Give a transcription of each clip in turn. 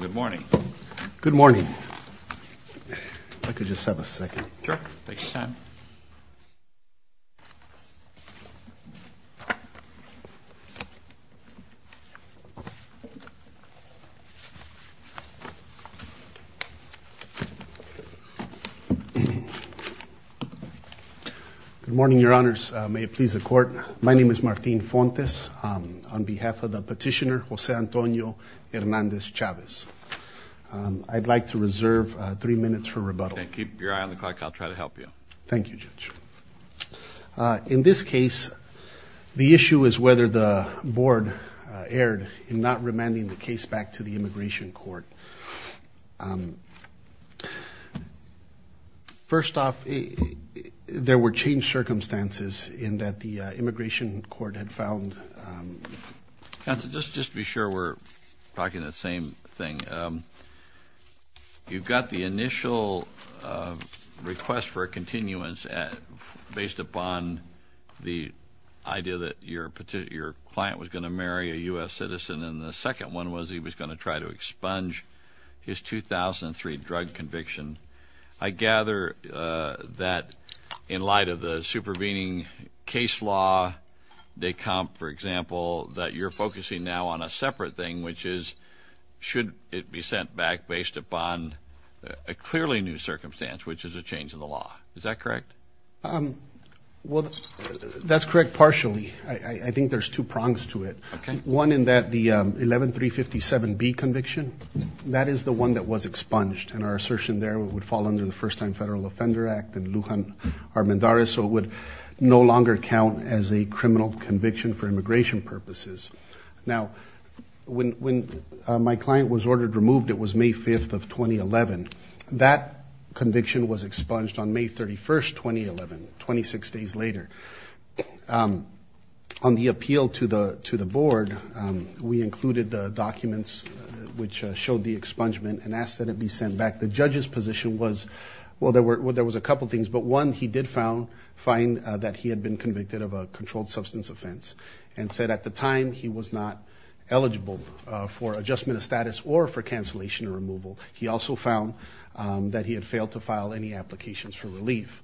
Good morning. Good morning. I could just have a second. Sure, take your time. Good morning, your honors. May it please the court. My name is Martin Fontes. On behalf of the court, I'd like to reserve three minutes for rebuttal. Keep your eye on the clock. I'll try to help you. Thank you, Judge. In this case, the issue is whether the board erred in not remanding the case back to the immigration court. First off, there were changed circumstances in that the immigration court had found... Counsel, just to be sure we're talking the same thing, you've got the initial request for a continuance based upon the idea that your client was going to marry a U.S. citizen and the second one was he was going to try to expunge his 2003 drug conviction. I gather that in light of the supervening case law, DECOMP, for example, that you're focusing now on a separate thing, which is should it be sent back based upon a clearly new circumstance, which is a change in the law. Is that correct? Well, that's correct partially. I think there's two prongs to it. One in that the 11357B conviction, that is the one that was expunged and our assertion there would fall under the first time federal offender act and Lujan Armendariz, so it would no longer count as a criminal conviction for immigration purposes. Now, when my client was ordered removed, it was May 5th of 2011. That conviction was expunged on May 31st, 2011, 26 days later. On the appeal to the board, we included the documents which showed the expungement and asked that it be sent back. The judge's position was, well, there was a couple of things, but one, he did find that he had been convicted of a controlled substance offense and said at the time he was not eligible for adjustment of status or for cancellation or removal. He also found that he had failed to file any applications for relief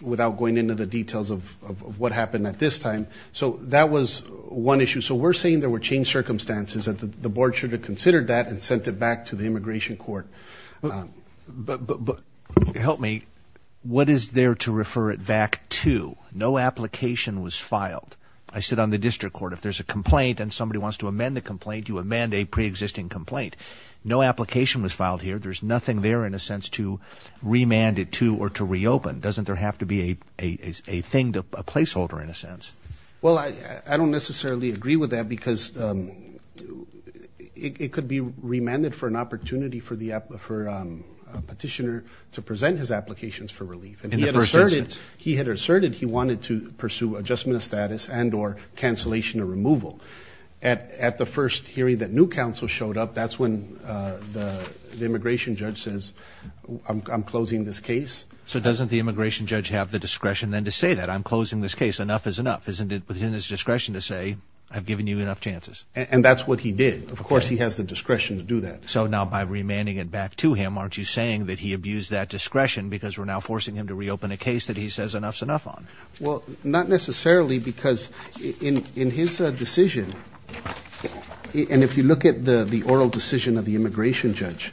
without going into the details of what happened at this time. So that was one issue. So we're saying there were changed circumstances and the board should have considered that and sent it back to the immigration court. But help me, what is there to refer it back to? No application was filed. I sit on the district court. If there's a complaint and somebody wants to amend the complaint, you amend a preexisting complaint. No application was filed here. There's nothing there in a sense to remand it to or to reopen. Doesn't there have to be a thing, a placeholder in a sense? Well, I don't necessarily agree with that because it could be remanded for an opportunity for the petitioner to present his applications for relief. He had asserted he wanted to pursue adjustment of status and or cancellation or removal. At the first hearing that new counsel showed up, that's when the immigration judge says, I'm closing this case. So doesn't the immigration judge have the discretion then to say that I'm closing this case, enough is enough. Isn't it within his discretion to say, I've given you enough chances? And that's what he did. Of course, he has the discretion to do that. So now by remanding it back to him, aren't you saying that he abused that discretion because we're now forcing him to reopen a case that he says enough's enough on? Well, not necessarily because in his decision, and if you look at the oral decision of the immigration judge,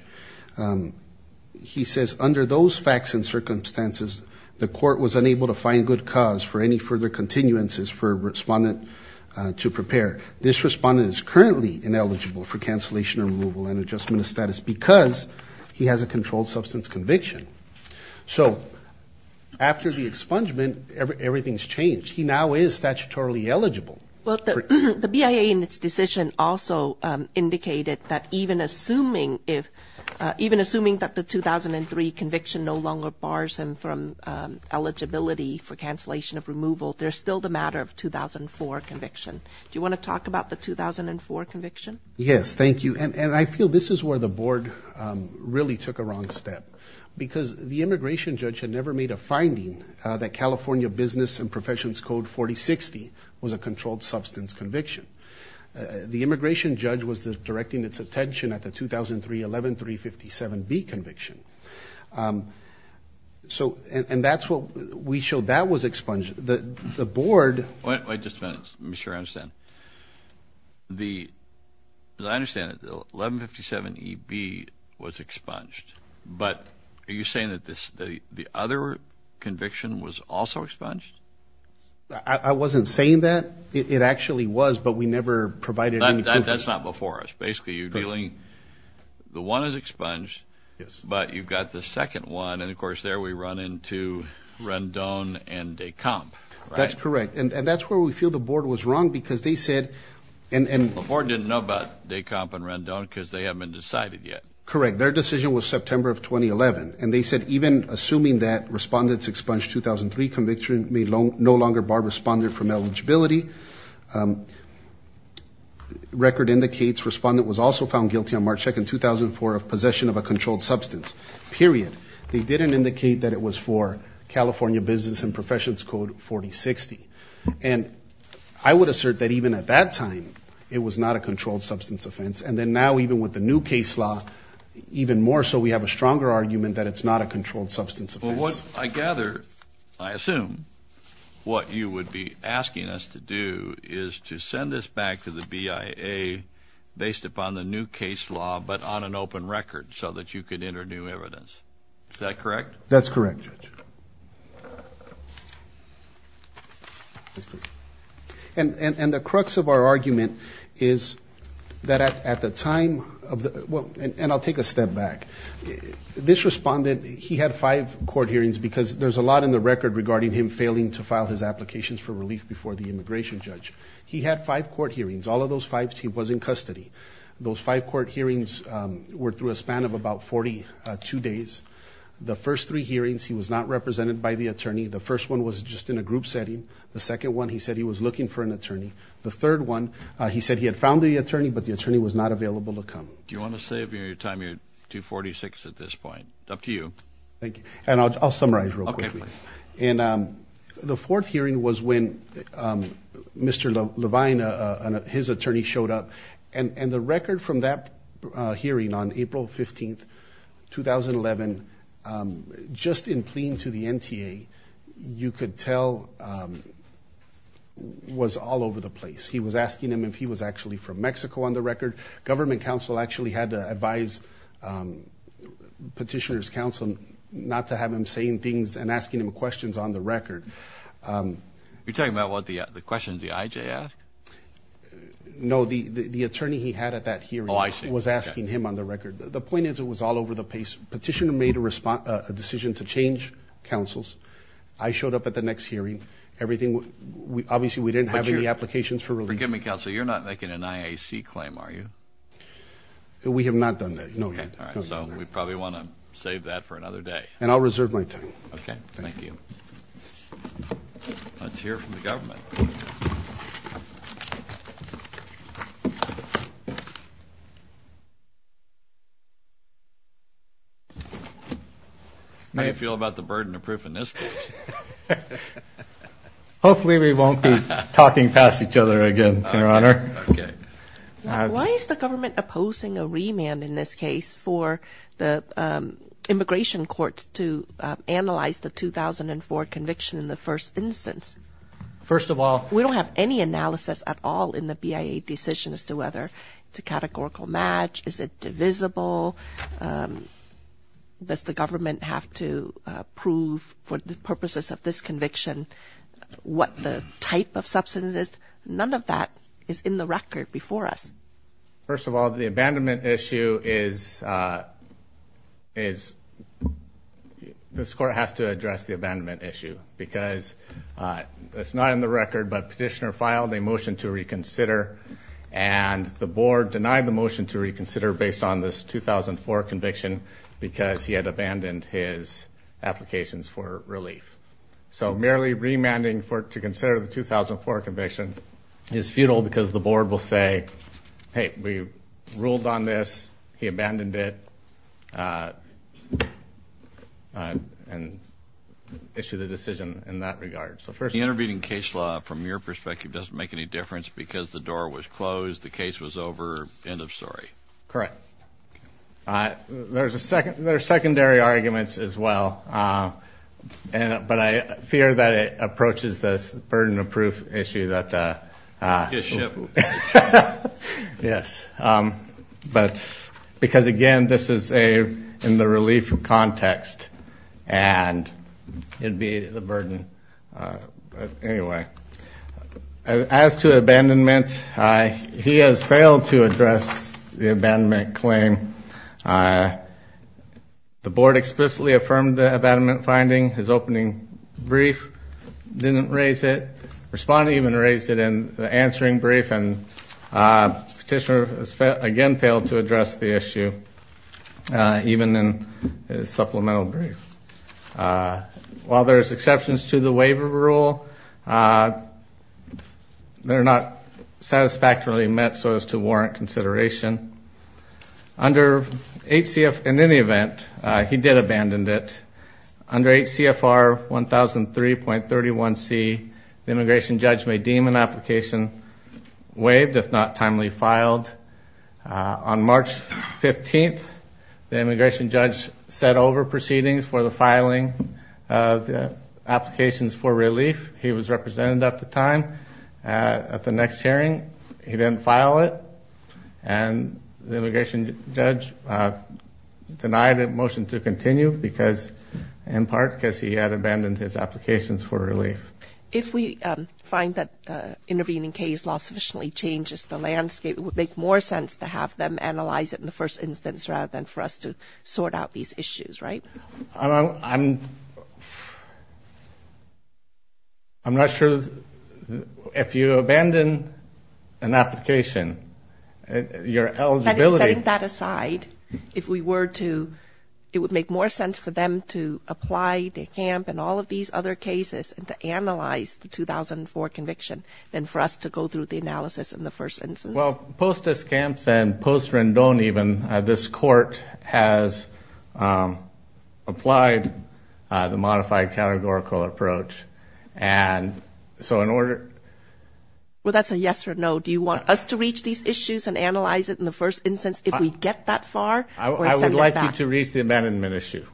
he says under those facts and circumstances, the court was unable to find good cause for any further continuances for a respondent to prepare. This respondent is currently ineligible for cancellation or removal and adjustment of status because he has a controlled substance conviction. So after the expungement, everything's changed. He now is statutorily eligible. Well, the BIA in its decision also indicated that even assuming if, even assuming that the 2003 conviction no longer bars him from eligibility for cancellation of removal, there's still the matter of 2004 conviction. Do you want to talk about the 2004 conviction? Yes, thank you. And I feel this is where the board really took a wrong step because the immigration judge had never made a finding that California Business and Professions Code 4060 was a controlled substance conviction. The immigration judge was directing its attention at the 2003 11357B conviction. So, and that's what we showed. That was expunged. The board... Wait just a minute. Let me make sure I understand. The, as I understand it, the 11357EB was expunged, but are you saying that the other conviction was also expunged? I wasn't saying that. It actually was, but we never provided any proof. That's not before us. Basically, you're dealing, the one is expunged, but you've got the second one and of course there we run into Rendon and DeComp, right? That's correct. And that's where we feel the board was wrong because they said, and... The board didn't know about DeComp and Rendon because they haven't been decided yet. Correct. Their decision was September of 2011. And they said even assuming that Respondents expunged 2003 conviction may no longer bar Respondent from eligibility. Record indicates Respondent was also found guilty on March 2nd, 2004 of possession of a controlled substance, period. They didn't indicate that it was for California Business and Professions Code 4060. And I would assert that even at that time, it was not a controlled substance offense. And then now even with the new case law, even more so we have a stronger argument that it's not a controlled substance offense. Well, what I gather, I assume, what you would be asking us to do is to send this back to the BIA based upon the new case law, but on an open record so that you could enter new evidence. Is that correct? That's correct. And the crux of our argument is that at the time, and I'll take a step back, this Respondent, he had five court hearings because there's a lot in the record regarding him failing to file his applications for relief before the immigration judge. He had five court hearings. All of those fives, he was in custody. Those five court hearings were through a span of about 42 days. The first three hearings, he was not represented by the attorney. The first one was just in a group setting. The second one, he said he was looking for an attorney. The third one, he said he had found the attorney, but the attorney was not available to come. Do you want to save your time? You're 246 at this point. It's up to you. Thank you. And I'll summarize real quickly. And the fourth hearing was when Mr. Levine and his attorney showed up. And the record from that hearing on April 15th, 2011, just in pleading to the NTA, you could tell was all over the place. He was asking him if he was actually from Mexico on the record. Government counsel actually had to advise petitioner's counsel not to have him saying things and asking him questions on the record. You're talking about the questions the IJ asked? No, the attorney he had at that hearing was asking him on the record. The point is it was all over the place. Petitioner made a decision to change counsels. I showed up at the next hearing. Obviously, we didn't have any applications for relief. Forgive me, counsel. You're not making an IAC claim, are you? We have not done that, no. Okay. All right. So we probably want to save that for another day. And I'll reserve my time. Okay. Thank you. Let's hear from the government. How do you feel about the burden of proof in this case? Hopefully we won't be talking past each other again, Your Honor. Okay. Why is the government opposing a remand in this case for the immigration courts to analyze the 2004 conviction in the first instance? First of all We don't have any analysis at all in the BIA decision as to whether it's a categorical match. Is it divisible? Does the government have to prove for the purposes of this conviction what the type of substance is? None of that is in the record before us. First of all, the abandonment issue is this court has to address the abandonment issue because it's not in the record, but petitioner filed a motion to reconsider and the board denied the motion to reconsider based on this 2004 conviction because he had abandoned his applications for relief. So merely remanding to consider the 2004 conviction is futile because the board will say, hey, we ruled on this, he abandoned it, and issue the decision in that regard. So first The intervening case law from your perspective doesn't make any difference because the door was closed, the case was over, end of story. Correct. There are secondary arguments as well, but I fear that it approaches this burden of proof issue that Yes, but because again, this is in the relief context and it'd be the burden. Anyway, as to abandonment, he has failed to address the abandonment claim. The board explicitly affirmed the abandonment finding, his opening brief didn't raise it, respondent even raised it in the answering brief and petitioner again failed to address the issue even in his supplemental brief. While there's exceptions to the waiver rule, they're not satisfactorily met so as to warrant consideration. In any event, he did abandon it. Under HCFR 1003.31c, the immigration judge may deem an application waived if not timely filed. On March 15th, the immigration judge set over proceedings for the filing of the applications for relief. He was represented at the time. At the next hearing, he didn't file it. And the immigration judge denied a motion to continue because in part because he had abandoned his applications for relief. If we find that intervening case law sufficiently changes the landscape, it would make more sense to have them analyze it in the first instance rather than for us to sort out these issues, right? I'm not sure if you abandon an application, your eligibility Setting that aside, if we were to, it would make more sense for them to apply to CAMP and all of these other cases and to analyze the 2004 conviction than for us to go through the analysis in the first instance. Well, post-DISCAMPS and post-Rendon even, this court has applied the modified categorical approach and so in order Well, that's a yes or no. Do you want us to reach these issues and analyze it in the first instance if we get that far? I would like you to reach the abandonment issue.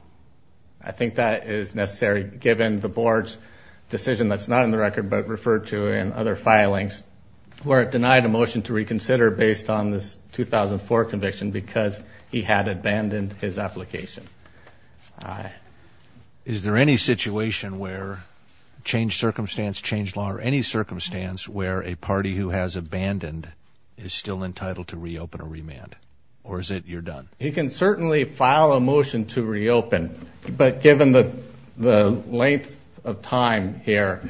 I think that is necessary given the board's decision that's not in the record but referred to in other filings where it was considered based on this 2004 conviction because he had abandoned his application. Is there any situation where, change circumstance, change law, or any circumstance where a party who has abandoned is still entitled to reopen or remand? Or is it you're done? He can certainly file a motion to reopen but given the length of time here,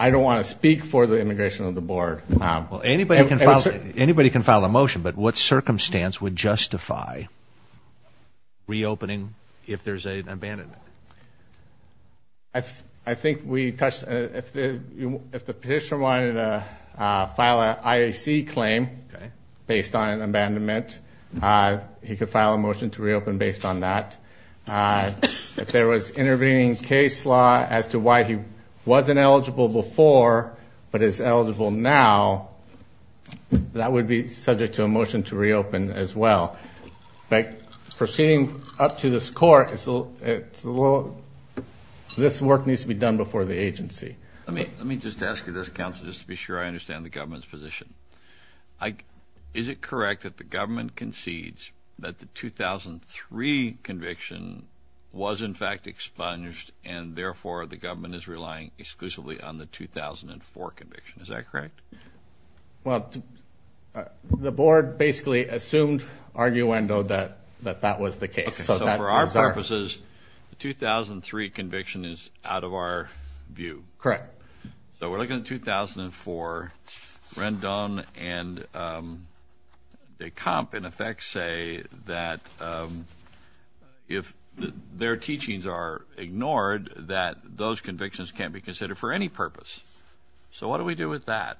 I don't want to speak for the integration of the board. Well, anybody can file a motion but what circumstance would justify reopening if there's an abandonment? I think we touched, if the petitioner wanted to file an IAC claim based on an abandonment, he could file a motion to reopen based on that. If there was intervening case law as to why he wasn't eligible before but is eligible now, that would be subject to a motion to reopen as well. Proceeding up to this court, this work needs to be done before the agency. Let me just ask you this, counsel, just to be sure I understand the government's position. Is it correct that the government concedes that the 2003 conviction was in fact expunged and therefore the government is relying exclusively on the 2004 conviction? Is that correct? Well, the board basically assumed arguendo that that was the case. So for our purposes, the 2003 conviction is out of our view. Correct. So we're looking at 2004, Rendon and Decomp in effect say that if their teachings are ignored, that those convictions can't be considered for any purpose. So what do we do with that?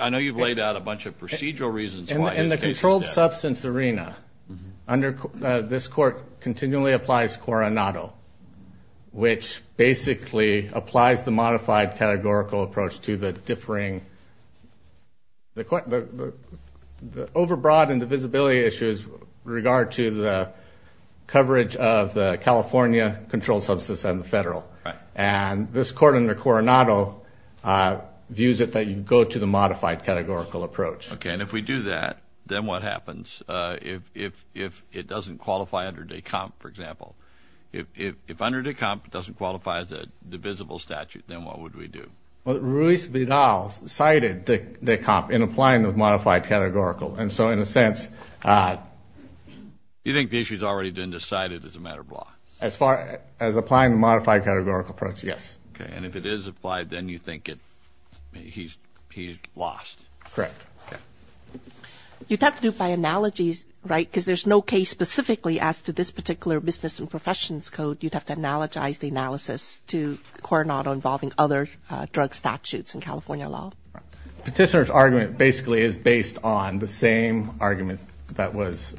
I know you've laid out a bunch of procedural reasons why. In the controlled substance arena, this court continually applies Coronado, which basically applies the modified categorical approach to the differing, the overbroad and divisibility issues with regard to the coverage of the California controlled substance and the federal. And this court under Coronado views it that you go to the modified categorical approach. Okay. And if we do that, then what happens if it doesn't qualify under Decomp, for example? If under Decomp, it doesn't qualify as a divisible statute, then what would we do? Well, Ruiz Vidal cited Decomp in applying the modified categorical. And so in a sense. You think the issue has already been decided as a matter of law? As far as applying the modified categorical approach, yes. Okay. And if it is applied, then you think he's lost. Correct. You'd have to do by analogies, right? Because there's no case specifically as to this particular business and professions code. You'd have to analogize the analysis to Coronado involving other drug statutes in California law. Petitioner's argument basically is based on the same argument that was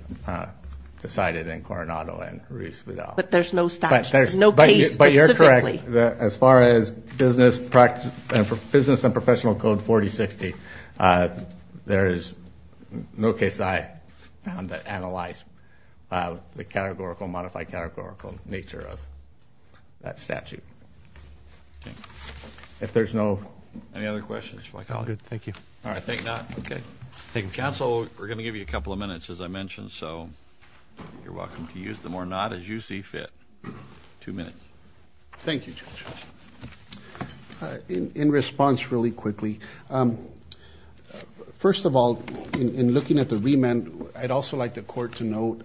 decided in Coronado and Ruiz Vidal. But there's no statute. There's no case specifically. But you're correct. As far as business and professional code 4060, there is no case that I found that analyzed the categorical, modified categorical nature of that statute. If there's no. Any other questions? All good. Thank you. All right. Thank you. Counsel, we're going to give you a couple of minutes, as I mentioned. So you're welcome to use them or not as you see fit. Two minutes. Thank you. In response really quickly. First of all, in looking at the remand, I'd also like the court to note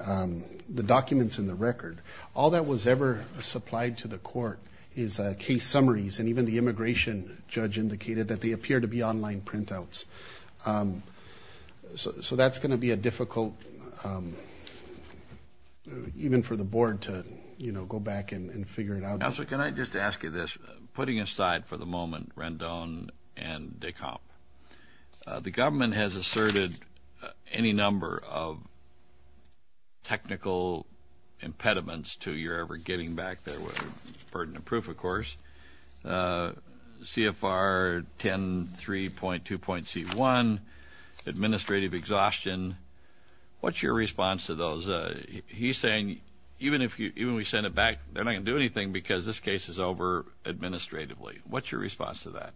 the documents in the record. All that was ever supplied to the court is case summaries. And even the immigration judge indicated that they appear to be online printouts. So that's going to be a difficult. Even for the board to, you know, go back and figure it out. Also, can I just ask you this? Putting aside for the moment, Rendon and Decomp, the government has asserted any number of technical impediments to your ever getting back there with a burden of proof, of course. CFR 10.3.2.C1, administrative exhaustion. What's your response to those? He's saying even if we send it back, they're not going to do anything because this case is over administratively. What's your response to that?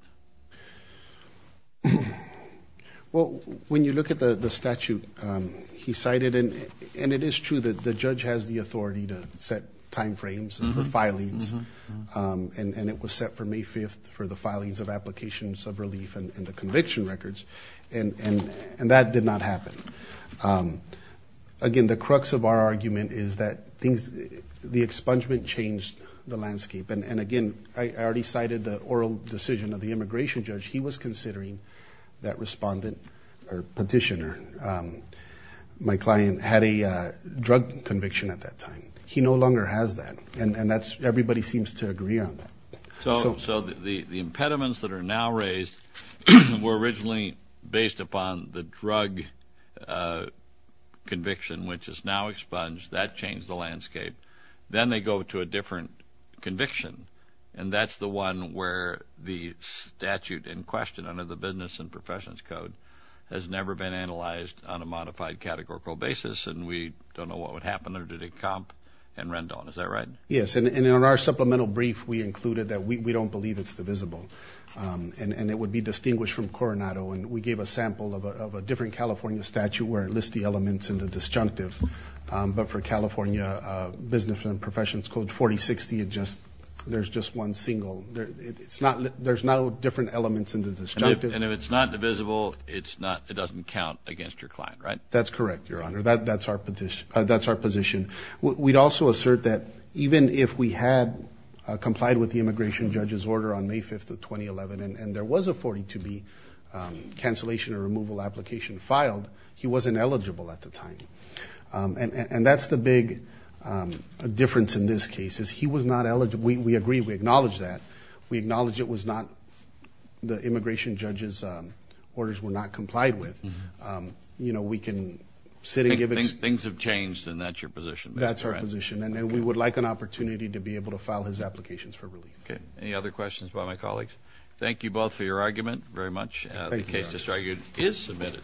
Well, when you look at the statute, he cited, and it is true that the judge has the authority to set timeframes and the filings. And it was set for May 5th for the filings of applications of relief and the conviction records. And that did not happen. Again, the crux of our argument is that the expungement changed the landscape. And again, I already cited the oral decision of immigration judge. He was considering that respondent or petitioner. My client had a drug conviction at that time. He no longer has that. And that's everybody seems to agree on. So the impediments that are now raised were originally based upon the drug conviction, which is now expunged. That changed the landscape. Then they go to a different conviction. And that's the one where the statute in question under the Business and Professions Code has never been analyzed on a modified categorical basis. And we don't know what would happen under the comp and Rendon. Is that right? Yes. And in our supplemental brief, we included that we don't believe it's divisible. And it would be distinguished from Coronado. And we gave a sample of a different California statute where it lists the elements in the disjunctive. But for California Business and Professions Code 4060, there's just one single. There's no different elements in the disjunctive. And if it's not divisible, it doesn't count against your client, right? That's correct, Your Honor. That's our position. We'd also assert that even if we had complied with the immigration judge's order on May 5th of 2011, and there was a 42B cancellation or removal application filed, he wasn't eligible at the time. And that's the big difference in this case is he was not eligible. We agree. We acknowledge that. We acknowledge it was not the immigration judge's orders were not complied with. You know, we can sit and give it. Things have changed and that's your position. That's our position. And we would like an opportunity to be able to file his applications for relief. Okay. Any other questions by my colleagues? Thank you both for your argument very much. The case is submitted.